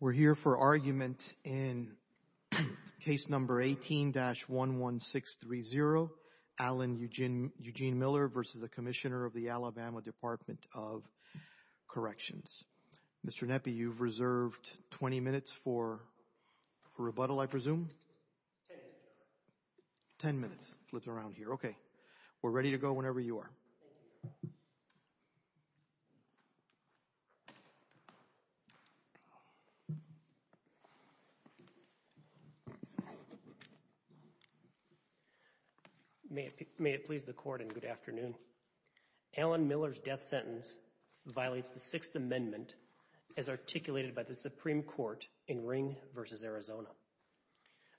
We're here for argument in case number 18-11630, Alan Eugene Miller v. Commissioner of the Alabama Department of Corrections. Mr. Nepi, you've reserved 20 minutes for rebuttal, I presume? Ten minutes. Ten minutes. Flipped around here. Okay. We're ready to go whenever you are. May it please the Court and good afternoon. Alan Miller's death sentence violates the Sixth Amendment as articulated by the Supreme Court in Ring v. Arizona.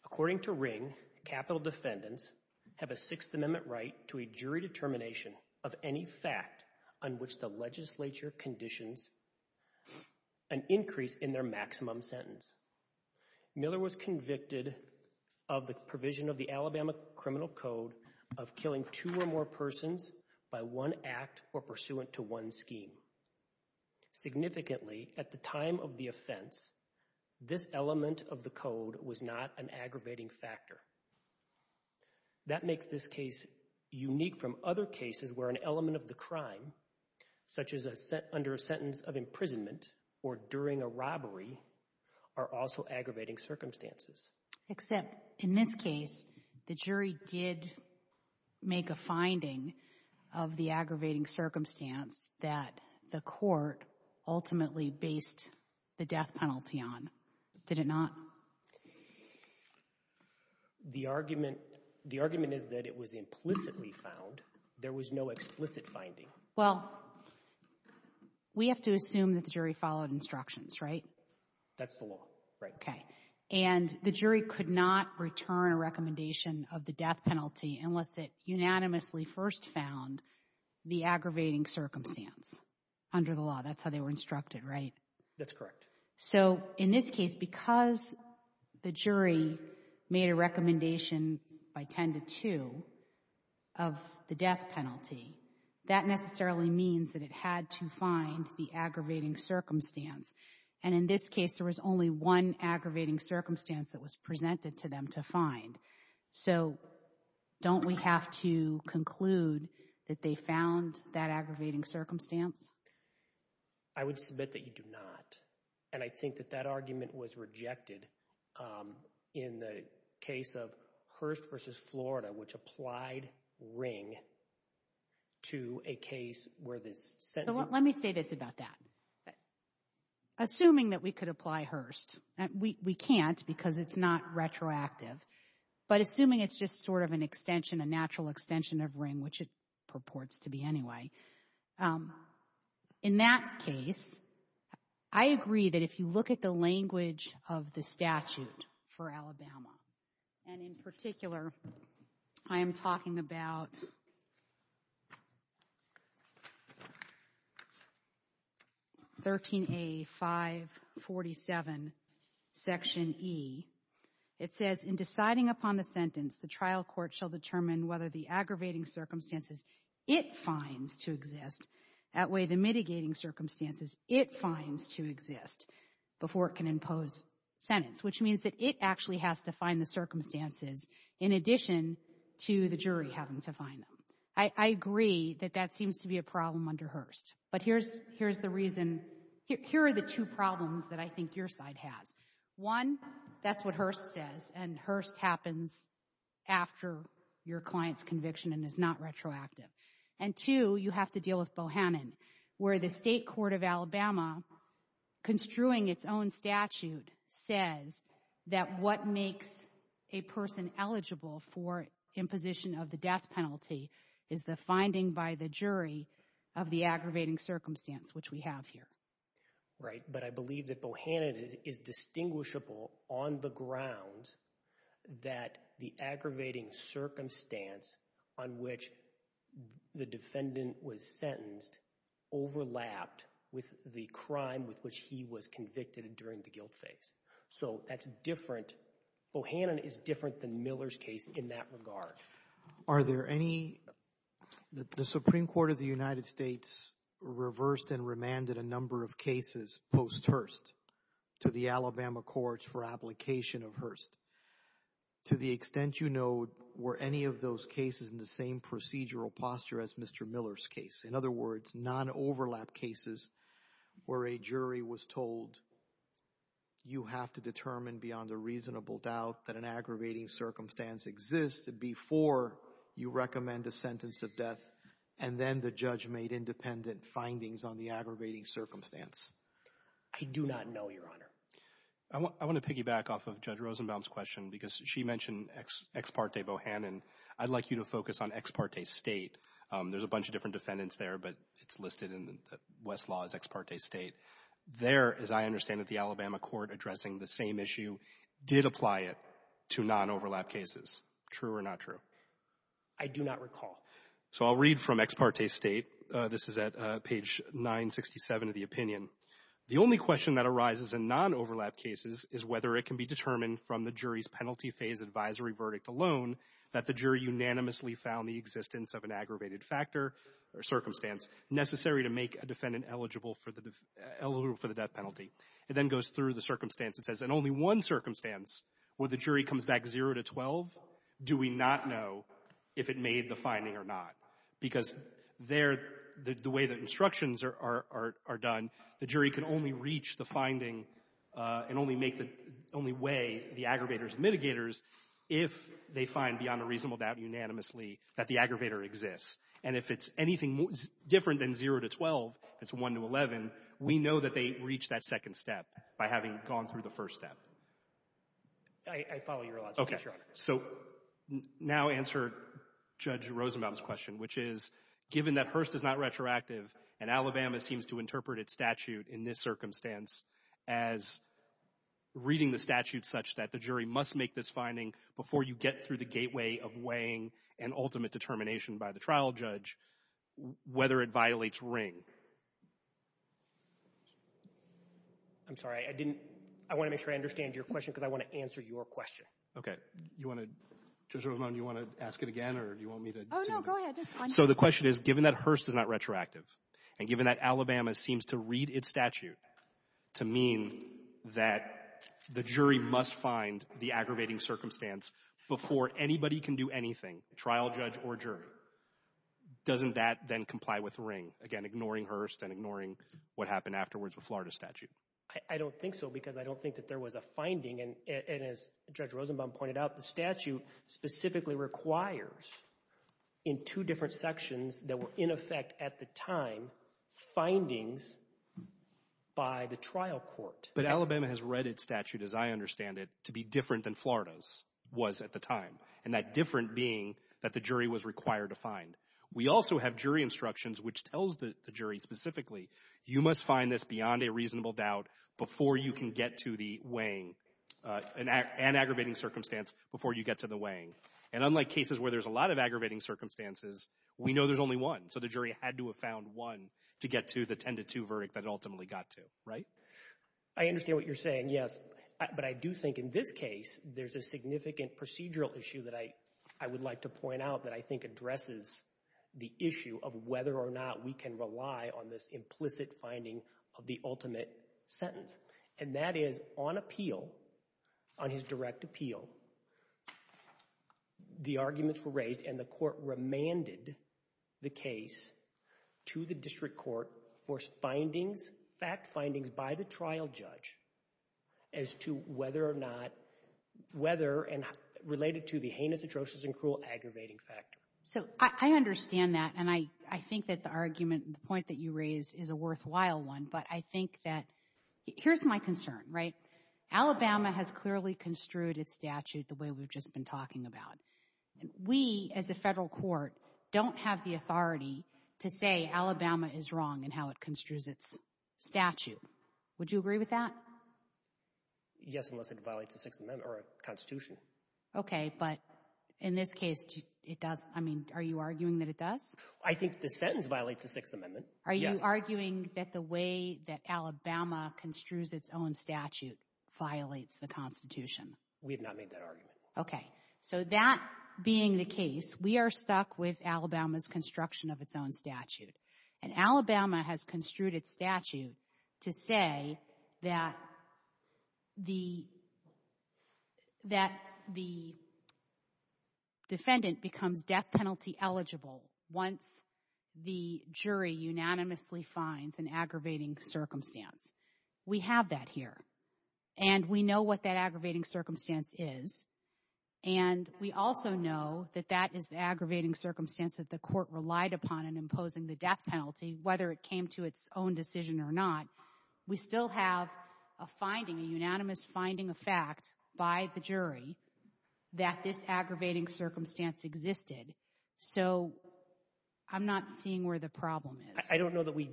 According to Ring, capital defendants have a Sixth Amendment right to a jury determination of any fact on which the legislature conditions an increase in their maximum sentence. Miller was convicted of the provision of the Alabama Criminal Code of killing two or more persons by one act or pursuant to one scheme. Significantly, at the time of the offense, this element of the code was not an aggravating factor. That makes this case unique from other cases where an element of the crime, such as under a sentence of imprisonment or during a robbery, are also aggravating circumstances. Except, in this case, the jury did make a finding of the aggravating circumstance that the court ultimately based the death penalty on, did it not? The argument, the argument is that it was implicitly found. There was no explicit finding. Well, we have to assume that the jury followed instructions, right? That's the law. Right. Okay. And the jury could not return a recommendation of the death penalty unless it unanimously first found the aggravating circumstance under the law. That's how they were instructed, right? That's correct. So, in this case, because the jury made a recommendation by 10 to 2 of the death penalty, that necessarily means that it had to find the aggravating circumstance. And in this case, there was only one aggravating circumstance that was presented to them to find. So, don't we have to conclude that they found that aggravating circumstance? I would submit that you do not. And I think that that argument was rejected in the case of Hearst v. Florida, which applied Ring to a case where this sentence... So, let me say this about that. Assuming that we could apply Hearst, and we can't because it's not retroactive, but assuming it's just sort of an extension, a natural extension of Ring, which it purports to be anyway. In that case, I agree that if you look at the language of the statute for Alabama, and in particular, I am talking about 13A547, Section E. It says, In deciding upon the sentence, the trial court shall determine whether the aggravating circumstances it finds to exist outweigh the mitigating circumstances it finds to exist before it sentence, which means that it actually has to find the circumstances in addition to the jury having to find them. I agree that that seems to be a problem under Hearst. But here's the reason. Here are the two problems that I think your side has. One, that's what Hearst says, and Hearst happens after your client's conviction and is not retroactive. And two, you have to deal with Bohannon, where the state court of Alabama, construing its own statute, says that what makes a person eligible for imposition of the death penalty is the finding by the jury of the aggravating circumstance, which we have here. Right, but I believe that Bohannon is distinguishable on the ground that the aggravating circumstance on which the defendant was sentenced overlapped with the crime with which he was convicted during the guilt phase. So that's different, Bohannon is different than Miller's case in that regard. Are there any, the Supreme Court of the United States reversed and remanded a number of cases post-Hearst to the Alabama courts for application of Hearst. To the extent you know, were any of those cases in the same procedural posture as Mr. Miller's case? In other words, non-overlap cases where a jury was told, you have to determine beyond a reasonable doubt that an aggravating circumstance exists before you recommend a sentence of death, and then the judge made independent findings on the aggravating circumstance. I do not know, Your Honor. I want to piggyback off of Judge Rosenbaum's question, because she mentioned Ex parte Bohannon. I'd like you to focus on ex parte state. There's a bunch of different defendants there, but it's listed in the West Law as ex parte state. There, as I understand it, the Alabama court addressing the same issue did apply it to non-overlap cases. True or not true? I do not recall. So I'll read from ex parte state. This is at page 967 of the opinion. The only question that arises in non-overlap cases is whether it can be determined from the jury's penalty phase advisory verdict alone that the jury unanimously found the existence of an aggravated factor or circumstance necessary to make a defendant eligible for the death penalty. It then goes through the circumstance. It says, in only one circumstance where the jury comes back 0 to 12, do we not know if it made the finding or not? Because there, the way the instructions are done, the jury can only reach the finding and only make the — only weigh the aggravators and mitigators if they find beyond a reasonable doubt unanimously that the aggravator exists. And if it's anything different than 0 to 12, that's 1 to 11, we know that they reached that second step by having gone through the first step. I follow your logic, Your Honor. So now answer Judge Rosenbaum's question, which is, given that Hearst is not retroactive and Alabama seems to interpret its statute in this circumstance as reading the statute such that the jury must make this finding before you get through the gateway of weighing an ultimate determination by the trial judge, whether it violates Ring? I'm sorry. I didn't — I want to make sure I understand your question because I want to answer your question. Okay. Okay. You want to — Judge Rosenbaum, do you want to ask it again or do you want me to — Oh, no. Go ahead. That's fine. So the question is, given that Hearst is not retroactive and given that Alabama seems to read its statute to mean that the jury must find the aggravating circumstance before anybody can do anything, trial judge or jury, doesn't that then comply with Ring, again, ignoring Hearst and ignoring what happened afterwards with Florida's statute? I don't think so because I don't think that there was a finding, and as Judge Rosenbaum pointed out, the statute specifically requires, in two different sections that were in effect at the time, findings by the trial court. But Alabama has read its statute, as I understand it, to be different than Florida's was at the time, and that different being that the jury was required to find. We also have jury instructions which tells the jury specifically, you must find this beyond a reasonable doubt before you can get to the weighing and aggravating circumstance before you get to the weighing. And unlike cases where there's a lot of aggravating circumstances, we know there's only one. So the jury had to have found one to get to the 10-to-2 verdict that it ultimately got to. Right? I understand what you're saying, yes. But I do think in this case, there's a significant procedural issue that I would like to point out that I think addresses the issue of whether or not we can rely on this implicit finding of the ultimate sentence. And that is, on appeal, on his direct appeal, the arguments were raised and the court remanded the case to the district court for findings, fact findings by the trial judge as to whether or not, whether, and related to the heinous atrocious and cruel aggravating factor. So I understand that, and I think that the argument, the point that you raised is a worthwhile one, but I think that, here's my concern, right? Alabama has clearly construed its statute the way we've just been talking about. We as a federal court don't have the authority to say Alabama is wrong in how it construes its statute. Would you agree with that? Yes, unless it violates the Sixth Amendment or a constitution. Okay, but in this case, it does, I mean, are you arguing that it does? I think the sentence violates the Sixth Amendment, yes. Are you arguing that the way that Alabama construes its own statute violates the constitution? We have not made that argument. Okay. So that being the case, we are stuck with Alabama's construction of its own statute. And Alabama has construed its statute to say that the defendant becomes death penalty eligible once the jury unanimously finds an aggravating circumstance. We have that here. And we know what that aggravating circumstance is. And we also know that that is the aggravating circumstance that the court relied upon in imposing the death penalty, whether it came to its own decision or not. We still have a finding, a unanimous finding of fact by the jury that this aggravating circumstance existed. So I'm not seeing where the problem is. I don't know that we,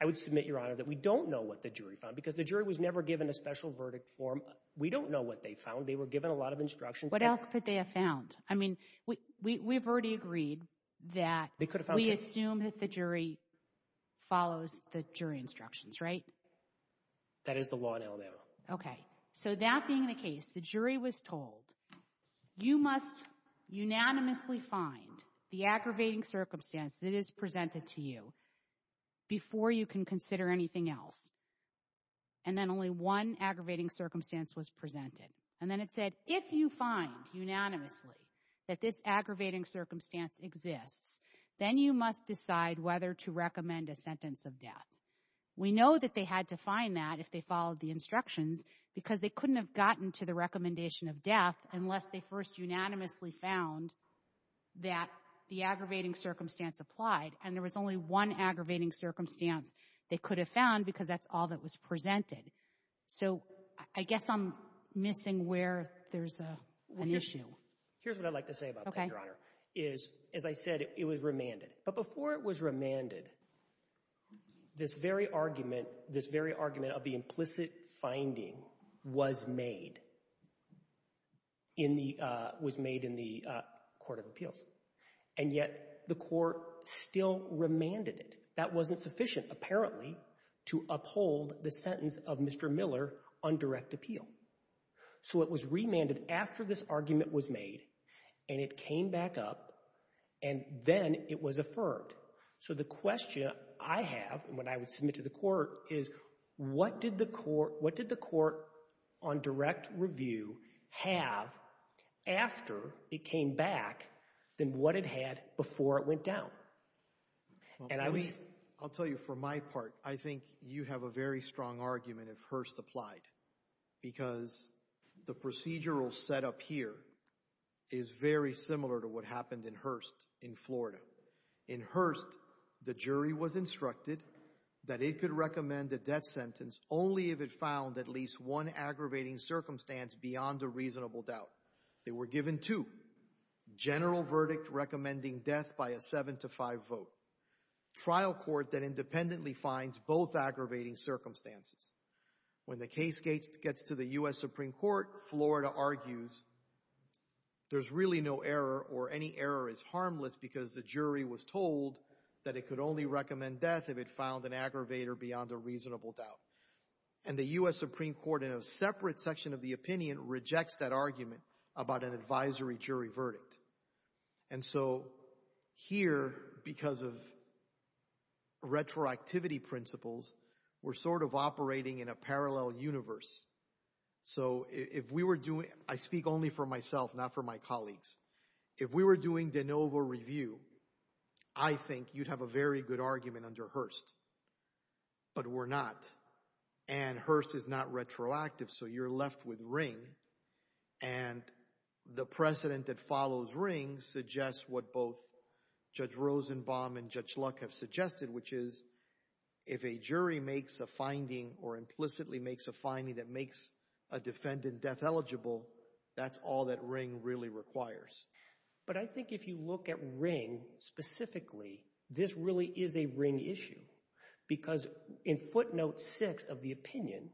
I would submit, Your Honor, that we don't know what the jury found because the jury was never given a special verdict for them. We don't know what they found. They were given a lot of instructions. What else could they have found? I mean, we've already agreed that we assume that the jury follows the jury instructions, right? That is the law in Alabama. Okay. So that being the case, the jury was told, you must unanimously find the aggravating circumstance that is presented to you before you can consider anything else. And then only one aggravating circumstance was presented. And then it said, if you find unanimously that this aggravating circumstance exists, then you must decide whether to recommend a sentence of death. We know that they had to find that if they followed the instructions because they couldn't have gotten to the recommendation of death unless they first unanimously found that the aggravating circumstance applied. And there was only one aggravating circumstance they could have found because that's all that was presented. So I guess I'm missing where there's an issue. Here's what I'd like to say about that, Your Honor, is, as I said, it was remanded. But before it was remanded, this very argument, this very argument of the implicit finding was made in the, was made in the Court of Appeals. And yet the court still remanded it. That wasn't sufficient, apparently, to uphold the sentence of Mr. Miller on direct appeal. So it was remanded after this argument was made, and it came back up, and then it was deferred. So the question I have when I would submit to the court is, what did the court, what did the court on direct review have after it came back than what it had before it went And I was— Well, let me, I'll tell you, for my part, I think you have a very strong argument if Hurst applied because the procedural setup here is very similar to what happened in Hurst in Florida. In Hurst, the jury was instructed that it could recommend a death sentence only if it found at least one aggravating circumstance beyond a reasonable doubt. They were given two, general verdict recommending death by a 7 to 5 vote, trial court that independently finds both aggravating circumstances. When the case gets to the U.S. Supreme Court, Florida argues there's really no error or any error is harmless because the jury was told that it could only recommend death if it found an aggravator beyond a reasonable doubt. And the U.S. Supreme Court in a separate section of the opinion rejects that argument about an advisory jury verdict. And so here, because of retroactivity principles, we're sort of operating in a parallel universe. So if we were doing—I speak only for myself, not for my colleagues. If we were doing de novo review, I think you'd have a very good argument under Hurst. But we're not. And Hurst is not retroactive, so you're left with Ring. And the precedent that follows Ring suggests what both Judge Rosenbaum and Judge Luck have suggested, which is if a jury makes a finding or implicitly makes a finding that makes a But I think if you look at Ring specifically, this really is a Ring issue. Because in footnote 6 of the opinion,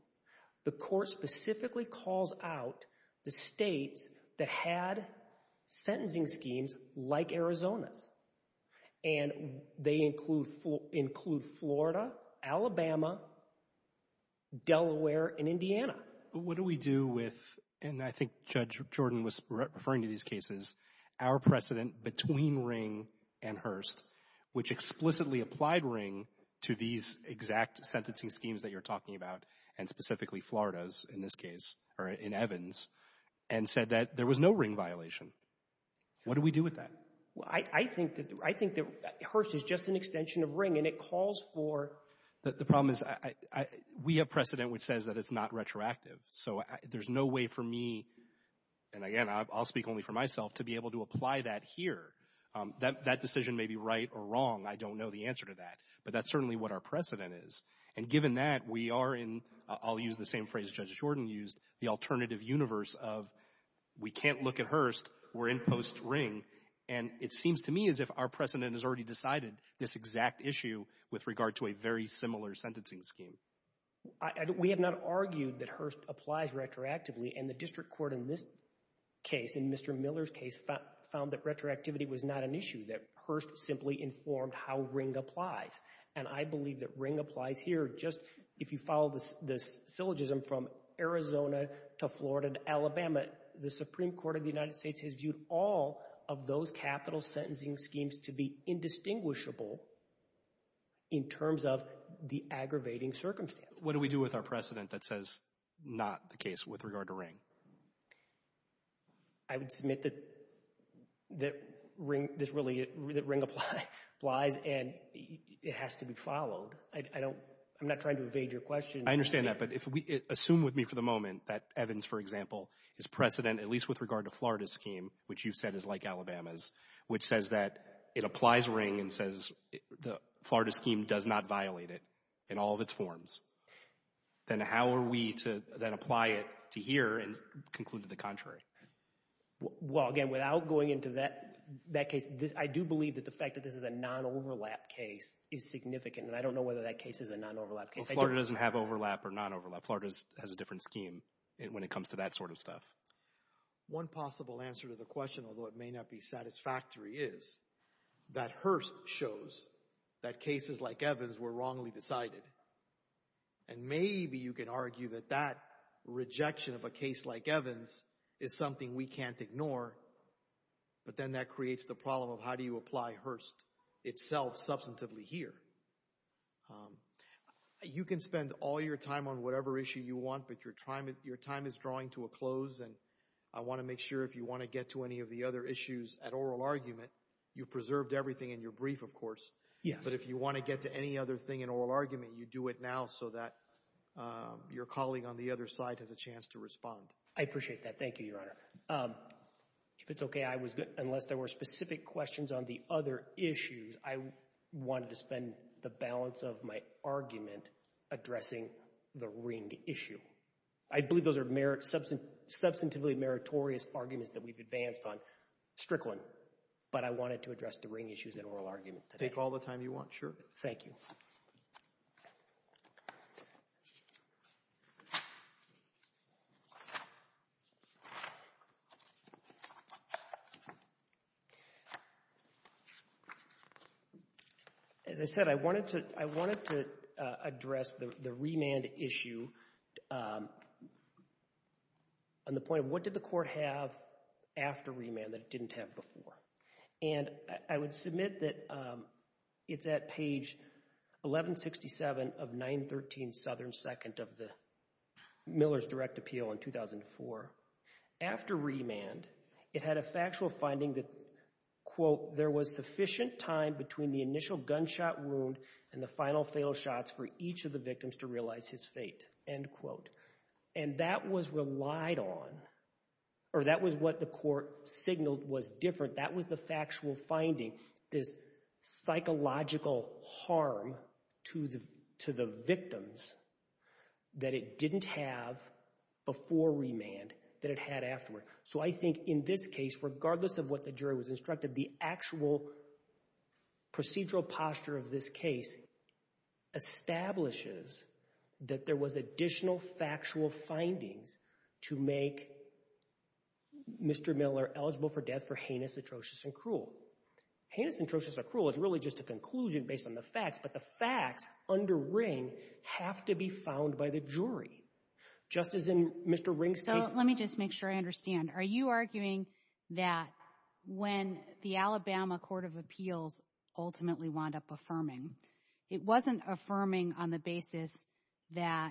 the court specifically calls out the states that had sentencing schemes like Arizona's. And they include Florida, Alabama, Delaware, and Indiana. But what do we do with—and I think Judge Jordan was referring to these cases—our precedent between Ring and Hurst, which explicitly applied Ring to these exact sentencing schemes that you're talking about, and specifically Florida's in this case, or in Evans, and said that there was no Ring violation. What do we do with that? Well, I think that Hurst is just an extension of Ring, and it calls for— The problem is we have precedent which says that it's not retroactive. So there's no way for me—and again, I'll speak only for myself—to be able to apply that here. That decision may be right or wrong. I don't know the answer to that. But that's certainly what our precedent is. And given that, we are in—I'll use the same phrase Judge Jordan used—the alternative universe of we can't look at Hurst, we're in post Ring. And it seems to me as if our precedent has already decided this exact issue with regard to a very similar sentencing scheme. We have not argued that Hurst applies retroactively. And the district court in this case, in Mr. Miller's case, found that retroactivity was not an issue, that Hurst simply informed how Ring applies. And I believe that Ring applies here. Just if you follow the syllogism from Arizona to Florida to Alabama, the Supreme Court of the United States has viewed all of those capital sentencing schemes to be indistinguishable in terms of the aggravating circumstances. What do we do with our precedent that says not the case with regard to Ring? I would submit that Ring applies and it has to be followed. I'm not trying to evade your question. I understand that. But assume with me for the moment that Evans, for example, his precedent, at least with regard to Florida's scheme, which you said is like Alabama's, which says that it applies to Ring and says the Florida scheme does not violate it in all of its forms. Then how are we to then apply it to here and conclude to the contrary? Well, again, without going into that case, I do believe that the fact that this is a non-overlap case is significant, and I don't know whether that case is a non-overlap case. Well, Florida doesn't have overlap or non-overlap. Florida has a different scheme when it comes to that sort of stuff. One possible answer to the question, although it may not be satisfactory, is that Hearst shows that cases like Evans were wrongly decided. And maybe you can argue that that rejection of a case like Evans is something we can't ignore, but then that creates the problem of how do you apply Hearst itself substantively here. You can spend all your time on whatever issue you want, but your time is drawing to a close and I want to make sure if you want to get to any of the other issues at oral argument, you've preserved everything in your brief, of course, but if you want to get to any other thing in oral argument, you do it now so that your colleague on the other side has a chance to respond. I appreciate that. Thank you, Your Honor. If it's okay, unless there were specific questions on the other issues, I wanted to spend the balance of my argument addressing the Ring issue. I believe those are substantively meritorious arguments that we've advanced on Strickland, but I wanted to address the Ring issues at oral argument today. Take all the time you want, sure. Thank you. As I said, I wanted to address the remand issue on the point of what did the court have after remand that it didn't have before. And I would submit that it's at page 1167 of 913 Southern 2nd of the Miller's Direct Appeal in 2004. After remand, it had a factual finding that, quote, there was sufficient time between the initial gunshot wound and the final fatal shots for each of the victims to realize his fate, end quote. And that was relied on, or that was what the court signaled was different. That was the factual finding, this psychological harm to the victims that it didn't have before remand that it had afterward. So I think in this case, regardless of what the jury was instructed, the actual procedural posture of this case establishes that there was additional factual findings to make Mr. Miller eligible for death for heinous, atrocious, and cruel. Heinous, atrocious, and cruel is really just a conclusion based on the facts, but the facts under Ring have to be found by the jury, just as in Mr. Ring's case. Let me just make sure I understand. Are you arguing that when the Alabama Court of Appeals ultimately wound up affirming, it wasn't affirming on the basis that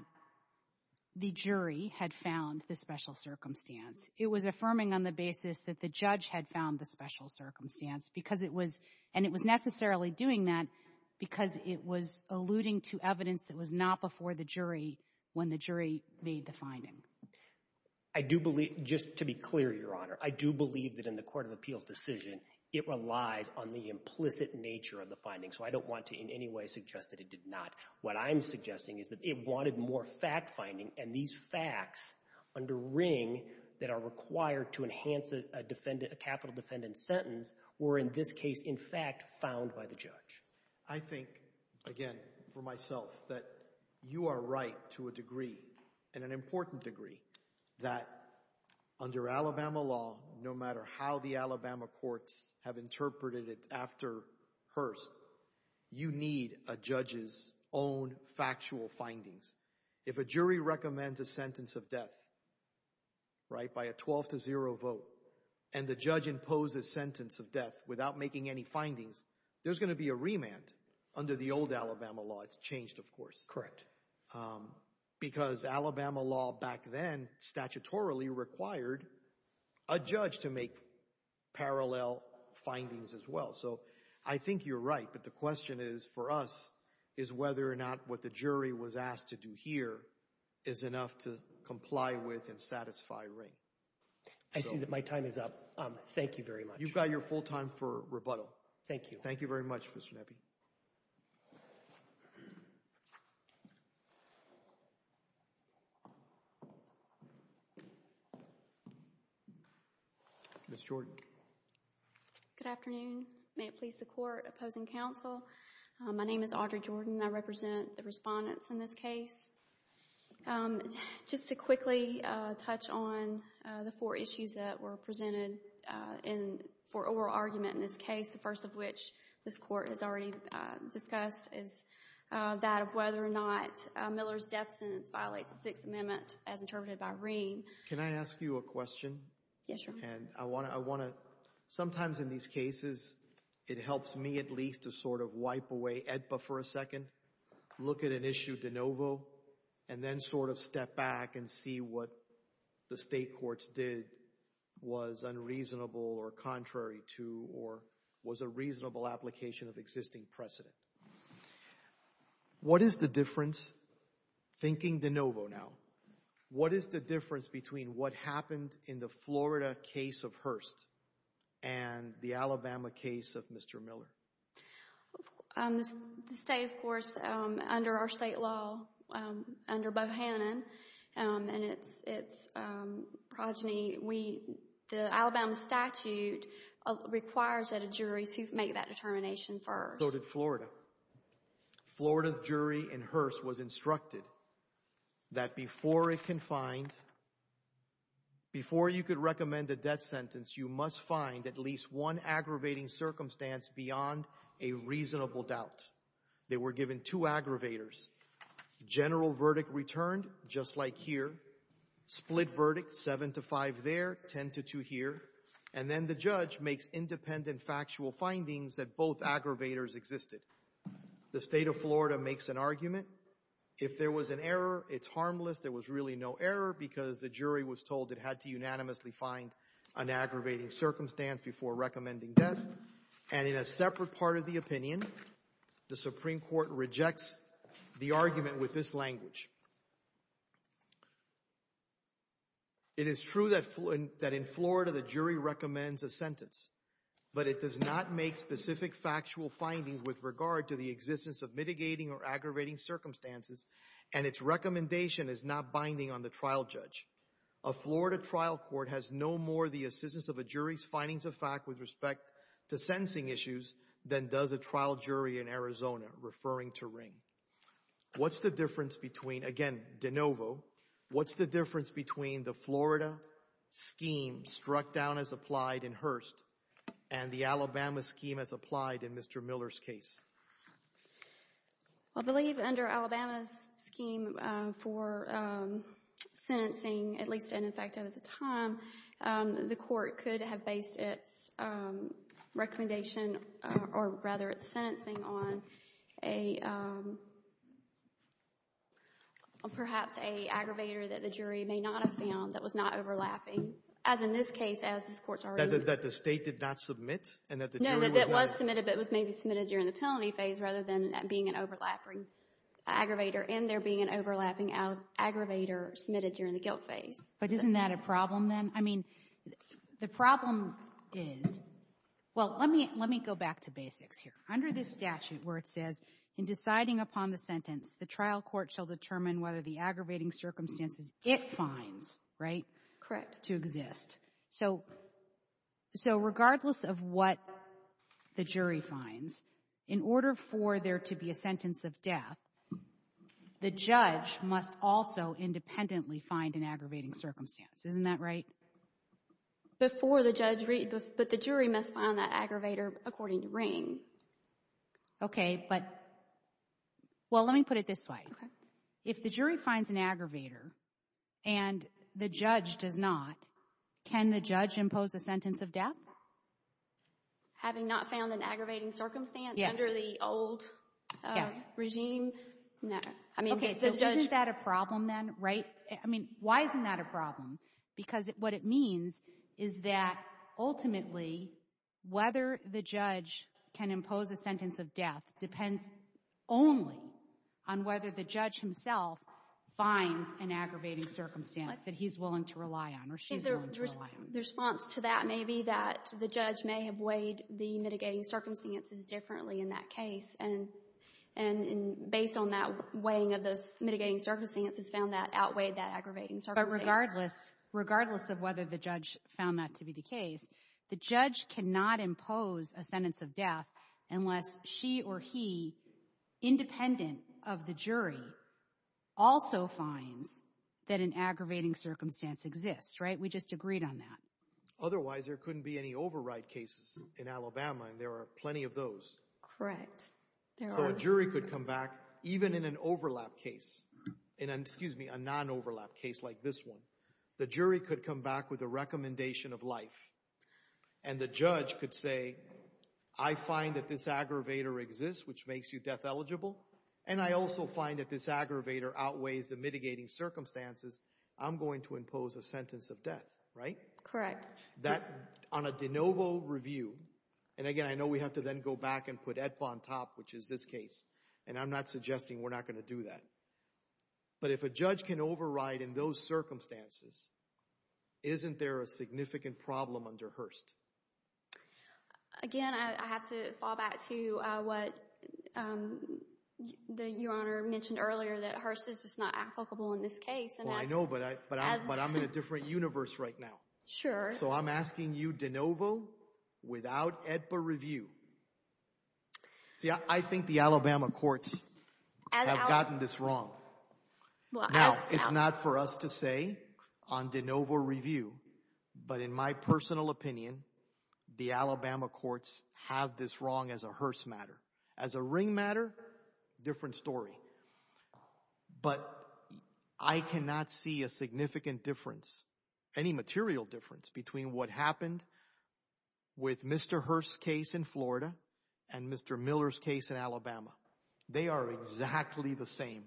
the jury had found the special circumstance. It was affirming on the basis that the judge had found the special circumstance because it was, and it was necessarily doing that because it was alluding to evidence that was not before the jury when the jury made the finding? I do believe, just to be clear, Your Honor, I do believe that in the court of appeals decision, it relies on the implicit nature of the finding. So I don't want to in any way suggest that it did not. What I'm suggesting is that it wanted more fact finding, and these facts under Ring that are required to enhance a capital defendant sentence were in this case, in fact, found by the judge. I think, again, for myself, that you are right to a degree, and an important degree, that under Alabama law, no matter how the Alabama courts have interpreted it after Hearst, you need a judge's own factual findings. If a jury recommends a sentence of death, right, by a 12 to 0 vote, and the judge imposes sentence of death without making any findings, there's going to be a remand under the old Alabama law. It's changed, of course. Correct. Because Alabama law back then, statutorily, required a judge to make parallel findings as well. So I think you're right, but the question is, for us, is whether or not what the jury was asked to do here is enough to comply with and satisfy Ring. I see that my time is up. Thank you very much. You've got your full time for rebuttal. Thank you. Thank you very much, Mr. Nebbe. Ms. Jordan. Good afternoon. May it please the Court, opposing counsel, my name is Audrey Jordan, and I represent the respondents in this case. Just to quickly touch on the four issues that were presented for oral argument in this case, the first of which this Court has already discussed, is that of whether or not Miller's death sentence violates the Sixth Amendment as interpreted by Ring. Yes, Your Honor. And I want to, sometimes in these cases, it helps me at least to sort of wipe away AEDPA for a second, look at an issue de novo, and then sort of step back and see what the State Courts did was unreasonable or contrary to, or was a reasonable application of existing precedent. What is the difference, thinking de novo now, what is the difference between what happened in the Florida case of Hurst and the Alabama case of Mr. Miller? The State, of course, under our state law, under Bohannon and its progeny, we, the Alabama statute requires that a jury to make that determination first. So did Florida. Florida's jury in Hurst was instructed that before it can find, before you could recommend a death sentence, you must find at least one aggravating circumstance beyond a reasonable doubt. They were given two aggravators. General verdict returned, just like here. Split verdict, 7 to 5 there, 10 to 2 here. And then the judge makes independent factual findings that both aggravators existed. The State of Florida makes an argument. If there was an error, it's harmless, there was really no error, because the jury was told it had to unanimously find an aggravating circumstance before recommending death. And in a separate part of the opinion, the Supreme Court rejects the argument with this language. It is true that in Florida the jury recommends a sentence, but it does not make specific factual findings with regard to the existence of mitigating or aggravating circumstances, and its recommendation is not binding on the trial judge. A Florida trial court has no more the assistance of a jury's findings of fact with respect to sentencing issues than does a trial jury in Arizona, referring to Ring. What's the difference between, again, de novo, what's the difference between the Florida scheme struck down as applied in Hearst and the Alabama scheme as applied in Mr. Miller's case? I believe under Alabama's scheme for sentencing, at least in effect at the time, the court could have based its recommendation, or rather its sentencing, on a perhaps an aggravator that the jury may not have found that was not overlapping, as in this case, as this Court's argument. That the State did not submit and that the jury was not? No, that it was submitted, but it was maybe submitted during the penalty phase rather than being an overlapping aggravator, and there being an overlapping aggravator submitted during the guilt phase. But isn't that a problem, then? I mean, the problem is, well, let me go back to basics here. Under this statute where it says, in deciding upon the sentence, the trial court shall determine whether the aggravating circumstances it finds, right? Correct. To exist. So regardless of what the jury finds, in order for there to be a sentence of death, the judge must also independently find an aggravating circumstance. Isn't that right? Before the judge, but the jury must find that aggravator according to Ring. Okay, but, well, let me put it this way. If the jury finds an aggravator and the judge does not, can the judge impose a sentence of death? Having not found an aggravating circumstance under the old regime? No. Okay, so isn't that a problem, then, right? I mean, why isn't that a problem? Because what it means is that, ultimately, whether the judge can impose a sentence of death depends only on whether the judge himself finds an aggravating circumstance that he's willing to rely on or she's willing to rely on. The response to that may be that the judge may have weighed the mitigating circumstances differently in that case, and based on that weighing of those mitigating circumstances, found that outweighed that aggravating circumstance. But regardless, regardless of whether the judge found that to be the case, the judge cannot impose a sentence of death unless she or he, independent of the jury, also finds that an aggravating circumstance exists, right? We just agreed on that. Otherwise, there couldn't be any override cases in Alabama, and there are plenty of those. Correct. So a jury could come back, even in an overlap case, and, excuse me, a non-overlap case like this one, the jury could come back with a recommendation of life, and the judge could say, I find that this aggravator exists, which makes you death eligible, and I also find that this aggravator outweighs the mitigating circumstances. I'm going to impose a sentence of death, right? Correct. That, on a de novo review, and again, I know we have to then go back and put EIPA on top, which is this case, and I'm not suggesting we're not going to do that, but if a judge can override in those circumstances, isn't there a significant problem under Hearst? Again, I have to fall back to what Your Honor mentioned earlier, that Hearst is just not applicable in this case. Well, I know, but I'm in a different universe right now. Sure. So I'm asking you de novo, without EIPA review. See, I think the Alabama courts have gotten this wrong. Now, it's not for us to say on de novo review, but in my personal opinion, the Alabama courts have this wrong as a Hearst matter. As a Ring matter, different story. But I cannot see a significant difference, any material difference, between what happened with Mr. Hearst's case in Florida and Mr. Miller's case in Alabama. They are exactly the same.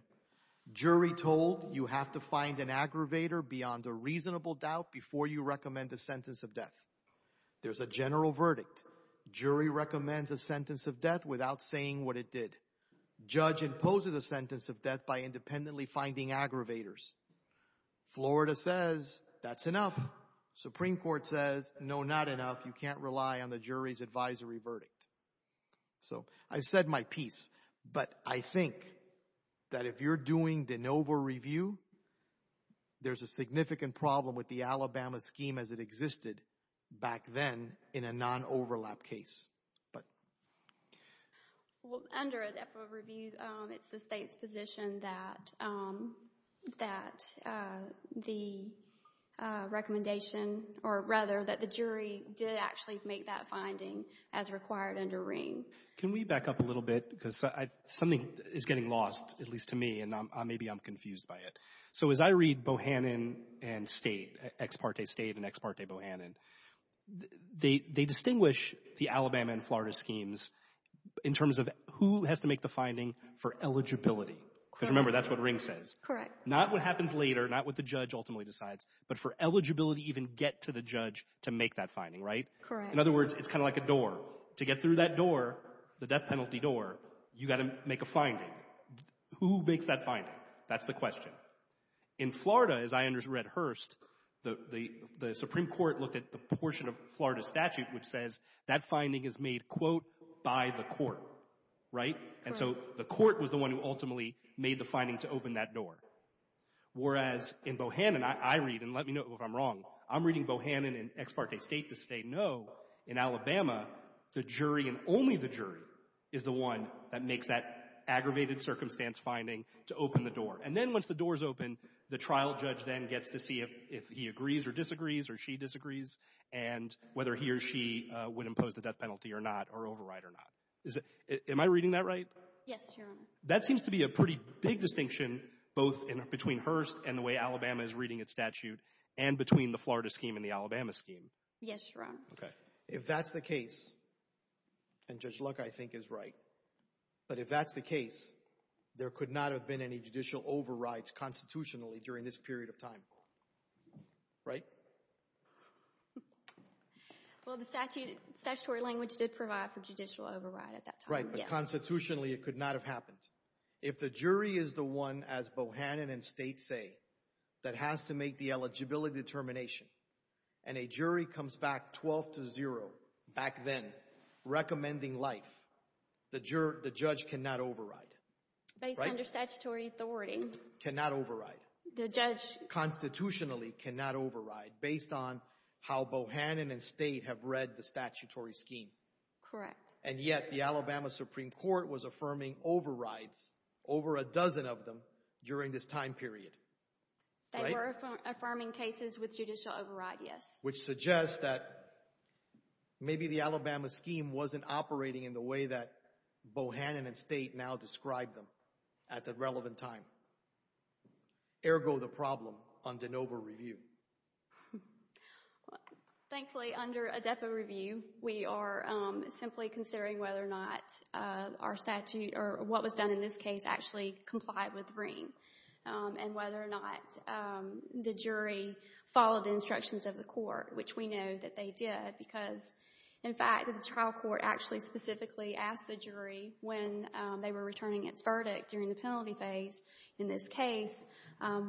Jury told, you have to find an aggravator beyond a reasonable doubt before you recommend a sentence of death. There's a general verdict. Jury recommends a sentence of death without saying what it did. Judge imposes a sentence of death by independently finding aggravators. Florida says, that's enough. Supreme Court says, no, not enough. You can't rely on the jury's advisory verdict. So, I said my piece, but I think that if you're doing de novo review, there's a significant problem with the Alabama scheme as it existed back then in a non-overlap case. Well, under a depo review, it's the state's position that the recommendation, or rather that the jury did actually make that finding as required under Ring. Can we back up a little bit, because something is getting lost, at least to me, and maybe I'm confused by it. So, as I read Bohannon and State, ex parte State and ex parte Bohannon, they distinguish the Alabama and Florida schemes in terms of who has to make the finding for eligibility. Because remember, that's what Ring says. Not what happens later, not what the judge ultimately decides, but for eligibility, even to get to the judge to make that finding, right? Correct. In other words, it's kind of like a door. To get through that door, the death penalty door, you've got to make a finding. Who makes that finding? That's the question. In Florida, as I read Hearst, the Supreme Court looked at the portion of Florida statute which says that finding is made, quote, by the court, right? Whereas, in Bohannon, I read, and let me know if I'm wrong, I'm reading Bohannon and ex parte State to say, no, in Alabama, the jury and only the jury is the one that makes that aggravated circumstance finding to open the door. And then once the door is open, the trial judge then gets to see if he agrees or disagrees or she disagrees, and whether he or she would impose the death penalty or not, or override or not. Am I reading that right? Yes, Your Honor. That seems to be a pretty big distinction, both between Hearst and the way Alabama is reading its statute, and between the Florida scheme and the Alabama scheme. Yes, Your Honor. Okay. If that's the case, and Judge Luck, I think, is right, but if that's the case, there could not have been any judicial overrides constitutionally during this period of time, right? Well, the statutory language did provide for judicial override at that time, yes. But constitutionally, it could not have happened. If the jury is the one, as Bohannon and State say, that has to make the eligibility determination, and a jury comes back 12 to 0 back then, recommending life, the judge cannot override, right? Based on their statutory authority. Cannot override. The judge... Constitutionally, cannot override, based on how Bohannon and State have read the statutory scheme. Correct. And yet, the Alabama Supreme Court was affirming overrides, over a dozen of them, during this time period. Right? They were affirming cases with judicial override, yes. Which suggests that maybe the Alabama scheme wasn't operating in the way that Bohannon and State now describe them at the relevant time. Ergo the problem on de novo review. Thankfully, under a depo review, we are simply considering whether or not our statute, or what was done in this case, actually complied with Ream. And whether or not the jury followed the instructions of the court, which we know that they did. Because, in fact, the trial court actually specifically asked the jury, when they were returning its verdict during the penalty phase in this case,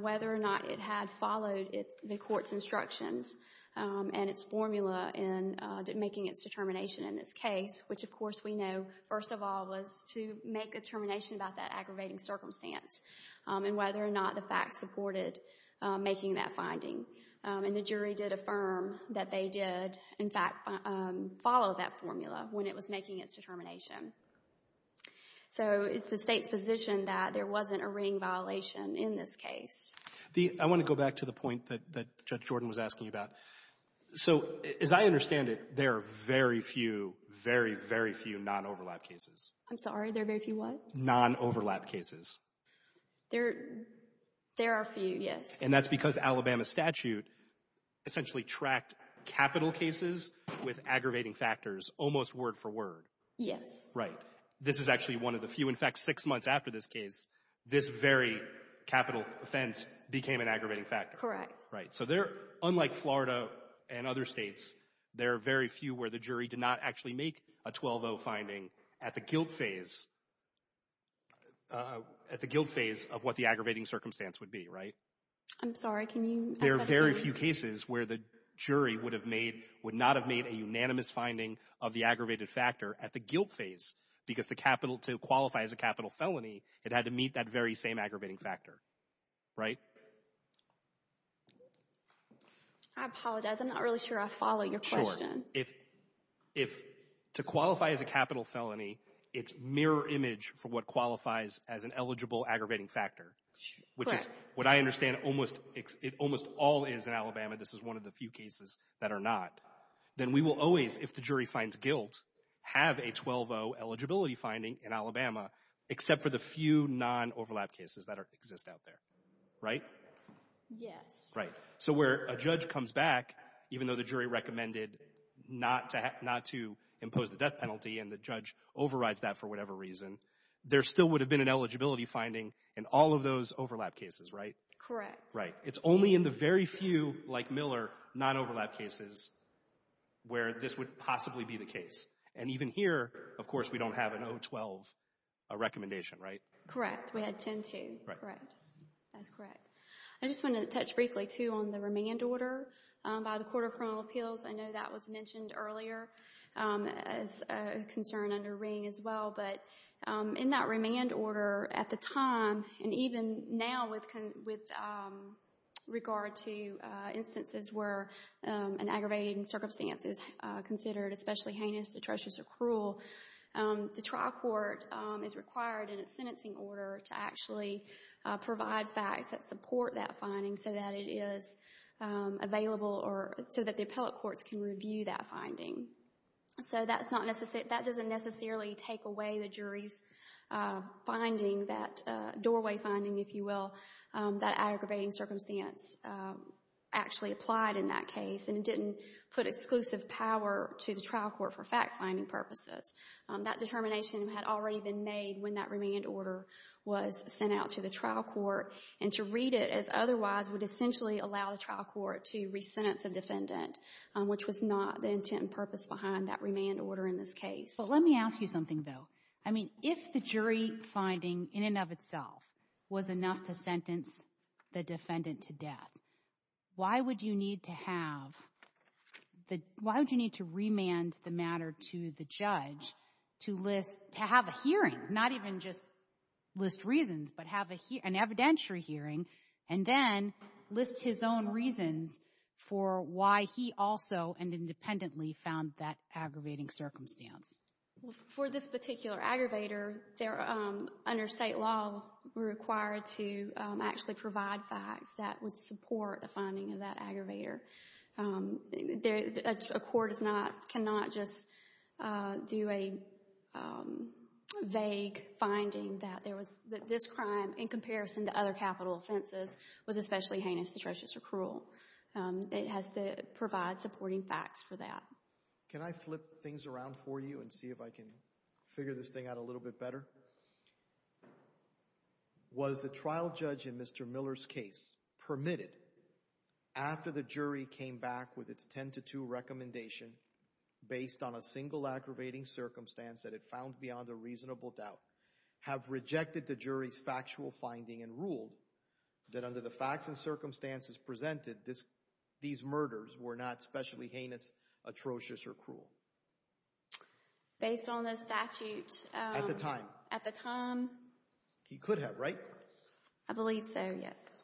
whether or not it had followed the court's instructions and its formula in making its determination in this case. Which, of course, we know, first of all, was to make a determination about that aggravating circumstance and whether or not the facts supported making that finding. And the jury did affirm that they did, in fact, follow that formula when it was making its determination. So it's the State's position that there wasn't a Ream violation in this case. I want to go back to the point that Judge Jordan was asking about. So as I understand it, there are very few, very, very few non-overlap cases. I'm sorry, there are very few what? Non-overlap cases. There are a few, yes. And that's because Alabama statute essentially tracked capital cases with aggravating factors almost word for word. Yes. Right. This is actually one of the few. In fact, six months after this case, this very capital offense became an aggravating factor. Correct. Right. So there, unlike Florida and other states, there are very few where the jury did not actually make a 12-0 finding at the guilt phase of what the aggravating circumstance would be, right? I'm sorry. Can you? There are very few cases where the jury would not have made a unanimous finding of the aggravated factor at the guilt phase, because to qualify as a capital felony, it had to meet that very same aggravating factor, right? I apologize, I'm not really sure I follow your question. Sure. To qualify as a capital felony, it's mirror image for what qualifies as an eligible aggravating factor. Correct. Which is what I understand almost all is in Alabama. This is one of the few cases that are not. Then we will always, if the jury finds guilt, have a 12-0 eligibility finding in Alabama, except for the few non-overlap cases that exist out there, right? Yes. Right. So where a judge comes back, even though the jury recommended not to impose the death penalty and the judge overrides that for whatever reason, there still would have been an eligibility finding in all of those overlap cases, right? Correct. Right. It's only in the very few, like Miller, non-overlap cases where this would possibly be the case. And even here, of course, we don't have an 0-12 recommendation, right? Correct. We had 10-2. Correct. That's correct. I just want to touch briefly, too, on the remand order by the Court of Criminal Appeals. I know that was mentioned earlier as a concern under Ring as well, but in that remand order at the time, and even now with regard to instances where an aggravating circumstance is considered especially heinous, atrocious, or cruel, the trial court is required in its sentencing order to actually provide facts that support that finding so that it is available or so that the appellate courts can review that finding. So that doesn't necessarily take away the jury's finding, that doorway finding, if you will, that aggravating circumstance actually applied in that case, and it didn't put exclusive power to the trial court for fact-finding purposes. That determination had already been made when that remand order was sent out to the trial court, and to read it as otherwise would essentially allow the trial court to re-sentence a defendant, which was not the intent and purpose behind that remand order in this case. But let me ask you something, though. I mean, if the jury finding in and of itself was enough to sentence the defendant to death, why would you need to have the — why would you need to remand the matter to the judge to list — to have a hearing, not even just list reasons, but have an evidentiary hearing, and then list his own reasons for why he also and independently found that aggravating circumstance? Well, for this particular aggravator, they're — under state law, we're required to actually provide facts that would support the finding of that aggravator. A court is not — cannot just do a vague finding that there was — that this crime, in comparison to other capital offenses, was especially heinous, atrocious, or cruel. It has to provide supporting facts for that. Can I flip things around for you and see if I can figure this thing out a little bit better? Was the trial judge in Mr. Miller's case permitted, after the jury came back with its 10 to 2 recommendation, based on a single aggravating circumstance that it found beyond a reasonable doubt, have rejected the jury's factual finding and ruled that under the facts and circumstances presented, this — these murders were not especially heinous, atrocious, or cruel? Based on the statute — At the time. At the time. He could have, right? I believe so, yes.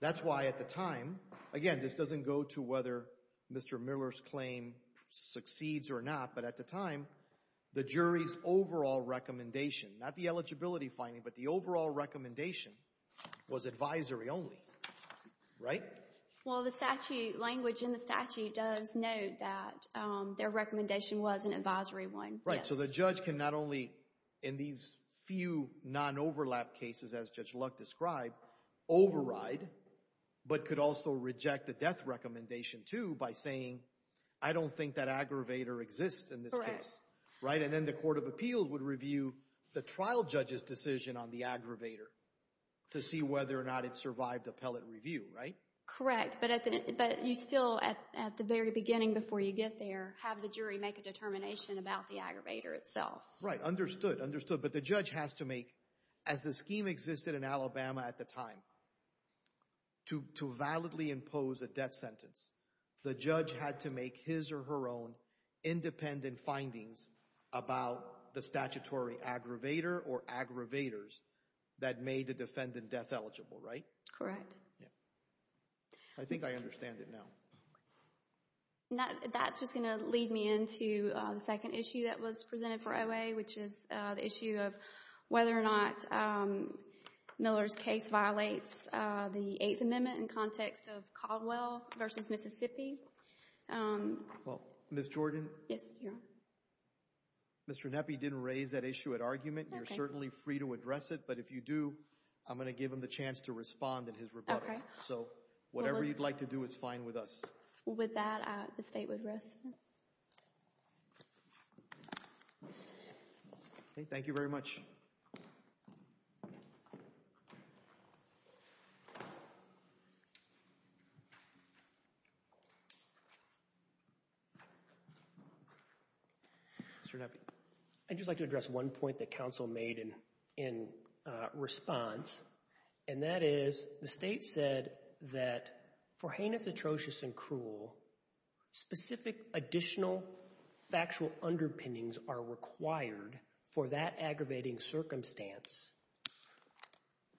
That's why at the time — again, this doesn't go to whether Mr. Miller's claim succeeds or not, but at the time, the jury's overall recommendation — not the eligibility finding, but the overall recommendation — was advisory only, right? Well, the statute — language in the statute does note that their recommendation was an advisory one, yes. Right. So the judge can not only, in these few non-overlap cases, as Judge Luck described, override, but could also reject the death recommendation, too, by saying, I don't think that aggravator exists in this case. Correct. Right? And then the Court of Appeals would review the trial judge's decision on the aggravator to see whether or not it survived appellate review, right? Correct. But at the — but you still, at the very beginning, before you get there, have the jury make a determination about the aggravator itself. Right. Understood. Understood. But the judge has to make — as the scheme existed in Alabama at the time, to validly pose a death sentence, the judge had to make his or her own independent findings about the statutory aggravator or aggravators that made the defendant death eligible, right? Correct. Yeah. I think I understand it now. That's just going to lead me into the second issue that was presented for OA, which is the issue of whether or not Miller's case violates the Eighth Amendment in context of Caldwell v. Mississippi. Well, Ms. Jordan? Yes, Your Honor. Mr. Neppe didn't raise that issue at argument. You're certainly free to address it, but if you do, I'm going to give him the chance to respond in his rebuttal. So whatever you'd like to do is fine with us. With that, the State would rest. Thank you very much. Mr. Neppe? I'd just like to address one point that counsel made in response, and that is the State said that for heinous, atrocious, and cruel, specific additional factual underpinnings are required for that aggravating circumstance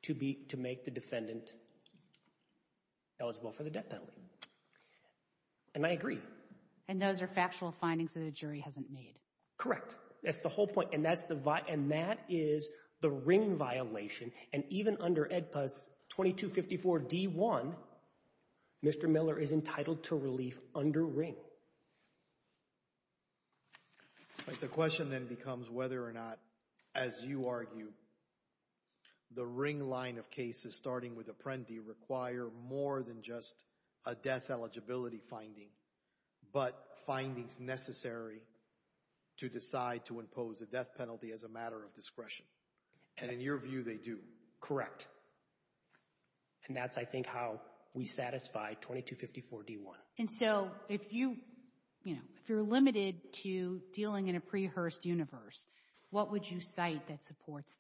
to make the defendant eligible for the death penalty. And I agree. And those are factual findings that a jury hasn't made. Correct. That's the whole point. And that is the Ring violation. And even under EDPAS 2254 D1, Mr. Miller is entitled to relief under Ring. The question then becomes whether or not, as you argue, the Ring line of cases, starting with Apprendi, require more than just a death eligibility finding, but findings necessary to decide to impose a death penalty as a matter of discretion. And in your view, they do. And that's, I think, how we satisfy 2254 D1. And so if you, you know, if you're limited to dealing in a pre-Hearst universe, what would you cite that supports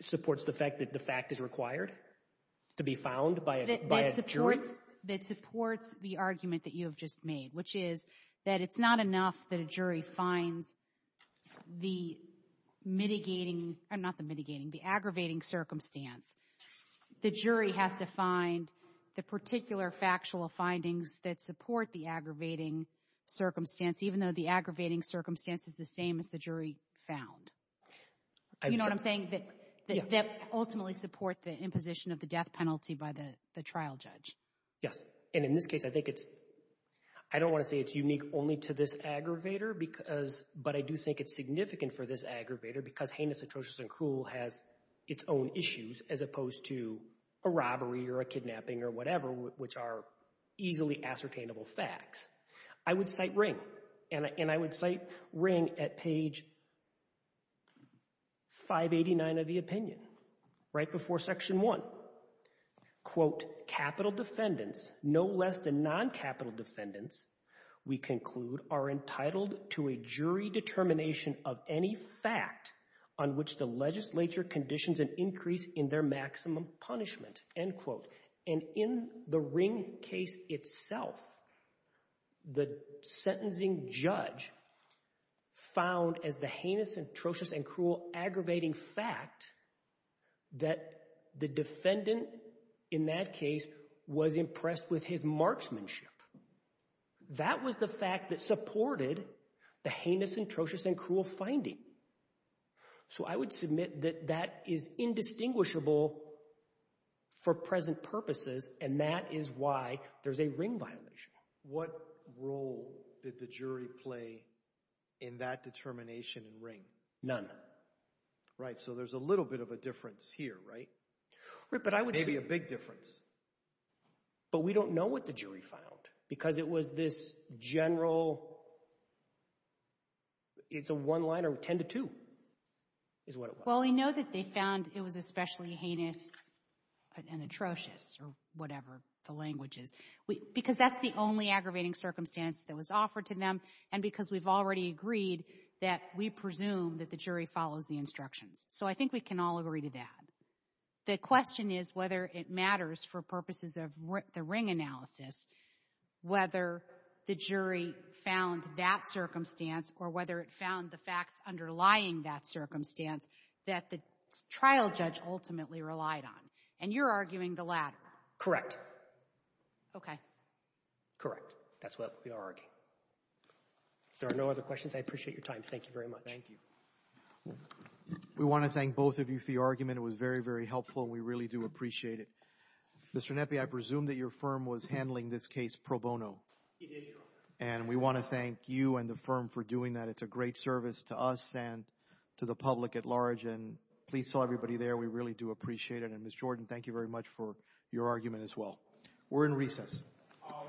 that? Supports the fact that the fact is required to be found by a jury? That supports the argument that you have just made, which is that it's not enough that a jury finds the mitigating, not the mitigating, the aggravating circumstance. The jury has to find the particular factual findings that support the aggravating circumstance, even though the aggravating circumstance is the same as the jury found. You know what I'm saying? That ultimately support the imposition of the death penalty by the trial judge. Yes. And in this case, I think it's, I don't want to say it's unique only to this aggravator because, but I do think it's significant for this aggravator because heinous, atrocious, and cruel has its own issues as opposed to a robbery or a kidnapping or whatever, which are easily ascertainable facts. I would cite Ring. And I would cite Ring at page 589 of the opinion, right before section one. Quote, capital defendants, no less than non-capital defendants, we conclude, are entitled to a jury determination of any fact on which the legislature conditions an increase in their maximum punishment, end quote. And in the Ring case itself, the sentencing judge found as the heinous, atrocious, and cruel aggravating fact that the defendant in that case was impressed with his marksmanship. That was the fact that supported the heinous, atrocious, and cruel finding. So, I would submit that that is indistinguishable for present purposes, and that is why there's a Ring violation. What role did the jury play in that determination in Ring? None. Right. So, there's a little bit of a difference here, right? But I would say- Maybe a big difference. But we don't know what the jury found because it was this general, it's a one-liner, ten to two, is what it was. Well, we know that they found it was especially heinous and atrocious, or whatever the language is. Because that's the only aggravating circumstance that was offered to them, and because we've already agreed that we presume that the jury follows the instructions. So, I think we can all agree to that. The question is whether it matters for purposes of the Ring analysis, whether the jury found that circumstance, or whether it found the facts underlying that circumstance that the trial judge ultimately relied on. And you're arguing the latter. Correct. Okay. Correct. That's what we are arguing. If there are no other questions, I appreciate your time. Thank you very much. Thank you. We want to thank both of you for your argument, it was very, very helpful, and we really do appreciate it. Mr. Nepi, I presume that your firm was handling this case pro bono. It is, Your Honor. And we want to thank you and the firm for doing that. It's a great service to us and to the public at large, and please tell everybody there, we really do appreciate it. And Ms. Jordan, thank you very much for your argument as well. We're in recess. All rise.